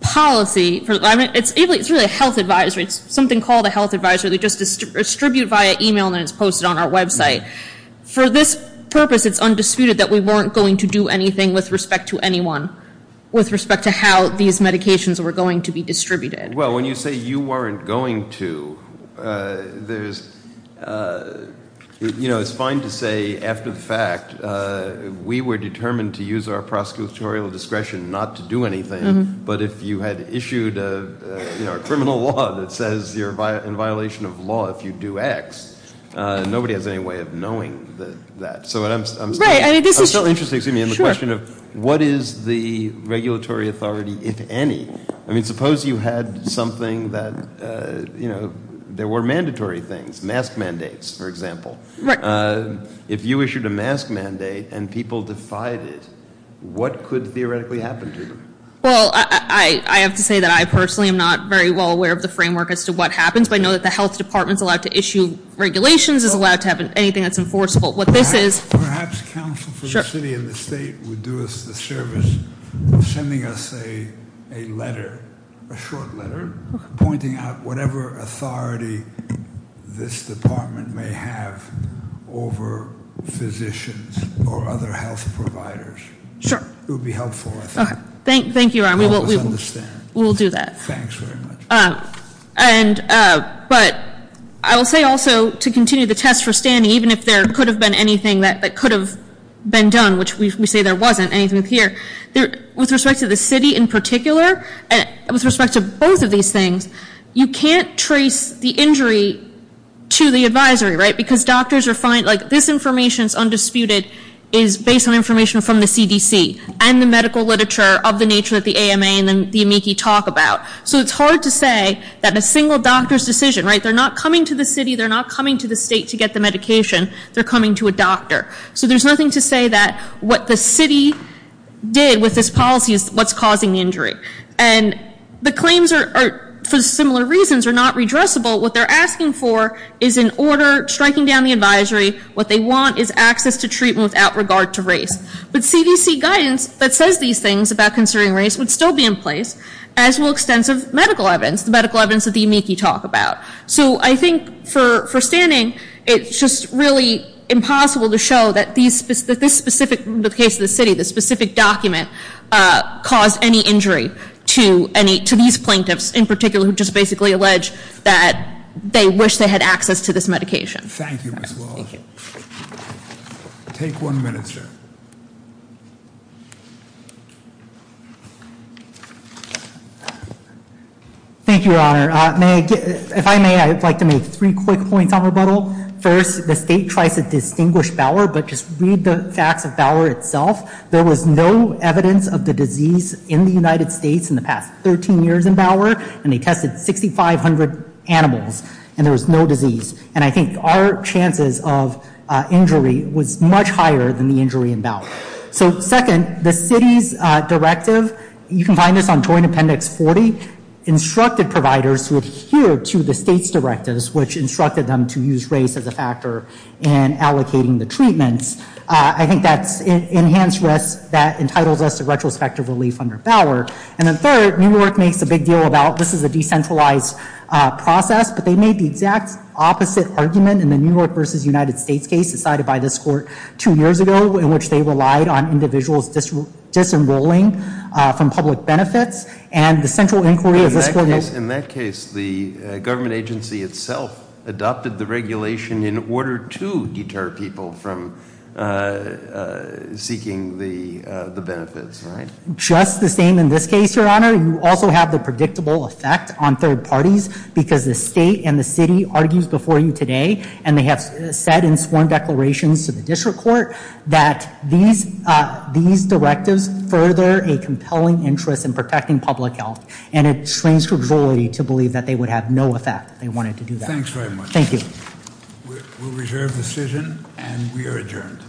policy, it's really a health advisory. It's something called a health advisory. They just distribute via e-mail and then it's posted on our website. For this purpose, it's undisputed that we weren't going to do anything with respect to anyone. With respect to how these medications were going to be distributed. Well, when you say you weren't going to, there's, you know, it's fine to say after the fact, we were determined to use our prosecutorial discretion not to do anything. But if you had issued a criminal law that says you're in violation of law if you do X, nobody has any way of knowing that. So I'm still interested in the question of what is the regulatory authority, if any. I mean, suppose you had something that, you know, there were mandatory things, mask mandates, for example. If you issued a mask mandate and people defied it, what could theoretically happen to them? Well, I have to say that I personally am not very well aware of the framework as to what happens. But I know that the health department is allowed to issue regulations, is allowed to have anything that's enforceable. What this is- Perhaps counsel for the city and the state would do us the service of sending us a letter, a short letter, pointing out whatever authority this department may have over physicians or other health providers. Sure. It would be helpful, I think. Thank you, Ron. I always understand. We will do that. Thanks very much. But I will say also to continue the test for standing, even if there could have been anything that could have been done, which we say there wasn't anything here, with respect to the city in particular, with respect to both of these things, you can't trace the injury to the advisory, right? Because doctors are finding, like, this information is undisputed, is based on information from the CDC and the medical literature of the nature that the AMA and the amici talk about. So it's hard to say that a single doctor's decision, right? They're not coming to the city. They're not coming to the state to get the medication. They're coming to a doctor. So there's nothing to say that what the city did with this policy is what's causing the injury. And the claims are, for similar reasons, are not redressable. What they're asking for is an order striking down the advisory. What they want is access to treatment without regard to race. But CDC guidance that says these things about concerning race would still be in place, as will extensive medical evidence, the medical evidence that the amici talk about. So I think for standing, it's just really impossible to show that this specific, in the case of the city, this specific document caused any injury to these plaintiffs, in particular, who just basically allege that they wish they had access to this medication. Thank you, Ms. Walsh. Take one minute, sir. Thank you, Your Honor. If I may, I'd like to make three quick points on rebuttal. First, the state tries to distinguish Bauer, but just read the facts of Bauer itself. There was no evidence of the disease in the United States in the past 13 years in Bauer, and they tested 6,500 animals, and there was no disease. And I think our chances of injury was much higher than the injury in Bauer. So second, the city's directive, you can find this on Joint Appendix 40, instructed providers to adhere to the state's directives, which instructed them to use race as a factor in allocating the treatments. I think that's enhanced risk that entitles us to retrospective relief under Bauer. And then third, New York makes a big deal about this is a decentralized process, but they made the exact opposite argument in the New York v. United States case decided by this court two years ago in which they relied on individuals disenrolling from public benefits. And the central inquiry of this court is- In that case, the government agency itself adopted the regulation in order to deter people from seeking the benefits, right? Just the same in this case, Your Honor. You also have the predictable effect on third parties because the state and the city argues before you today, and they have said in sworn declarations to the district court that these directives further a compelling interest in protecting public health. And it strains credibility to believe that they would have no effect if they wanted to do that. Thanks very much. Thank you. We'll reserve the decision, and we are adjourned. Court is adjourned.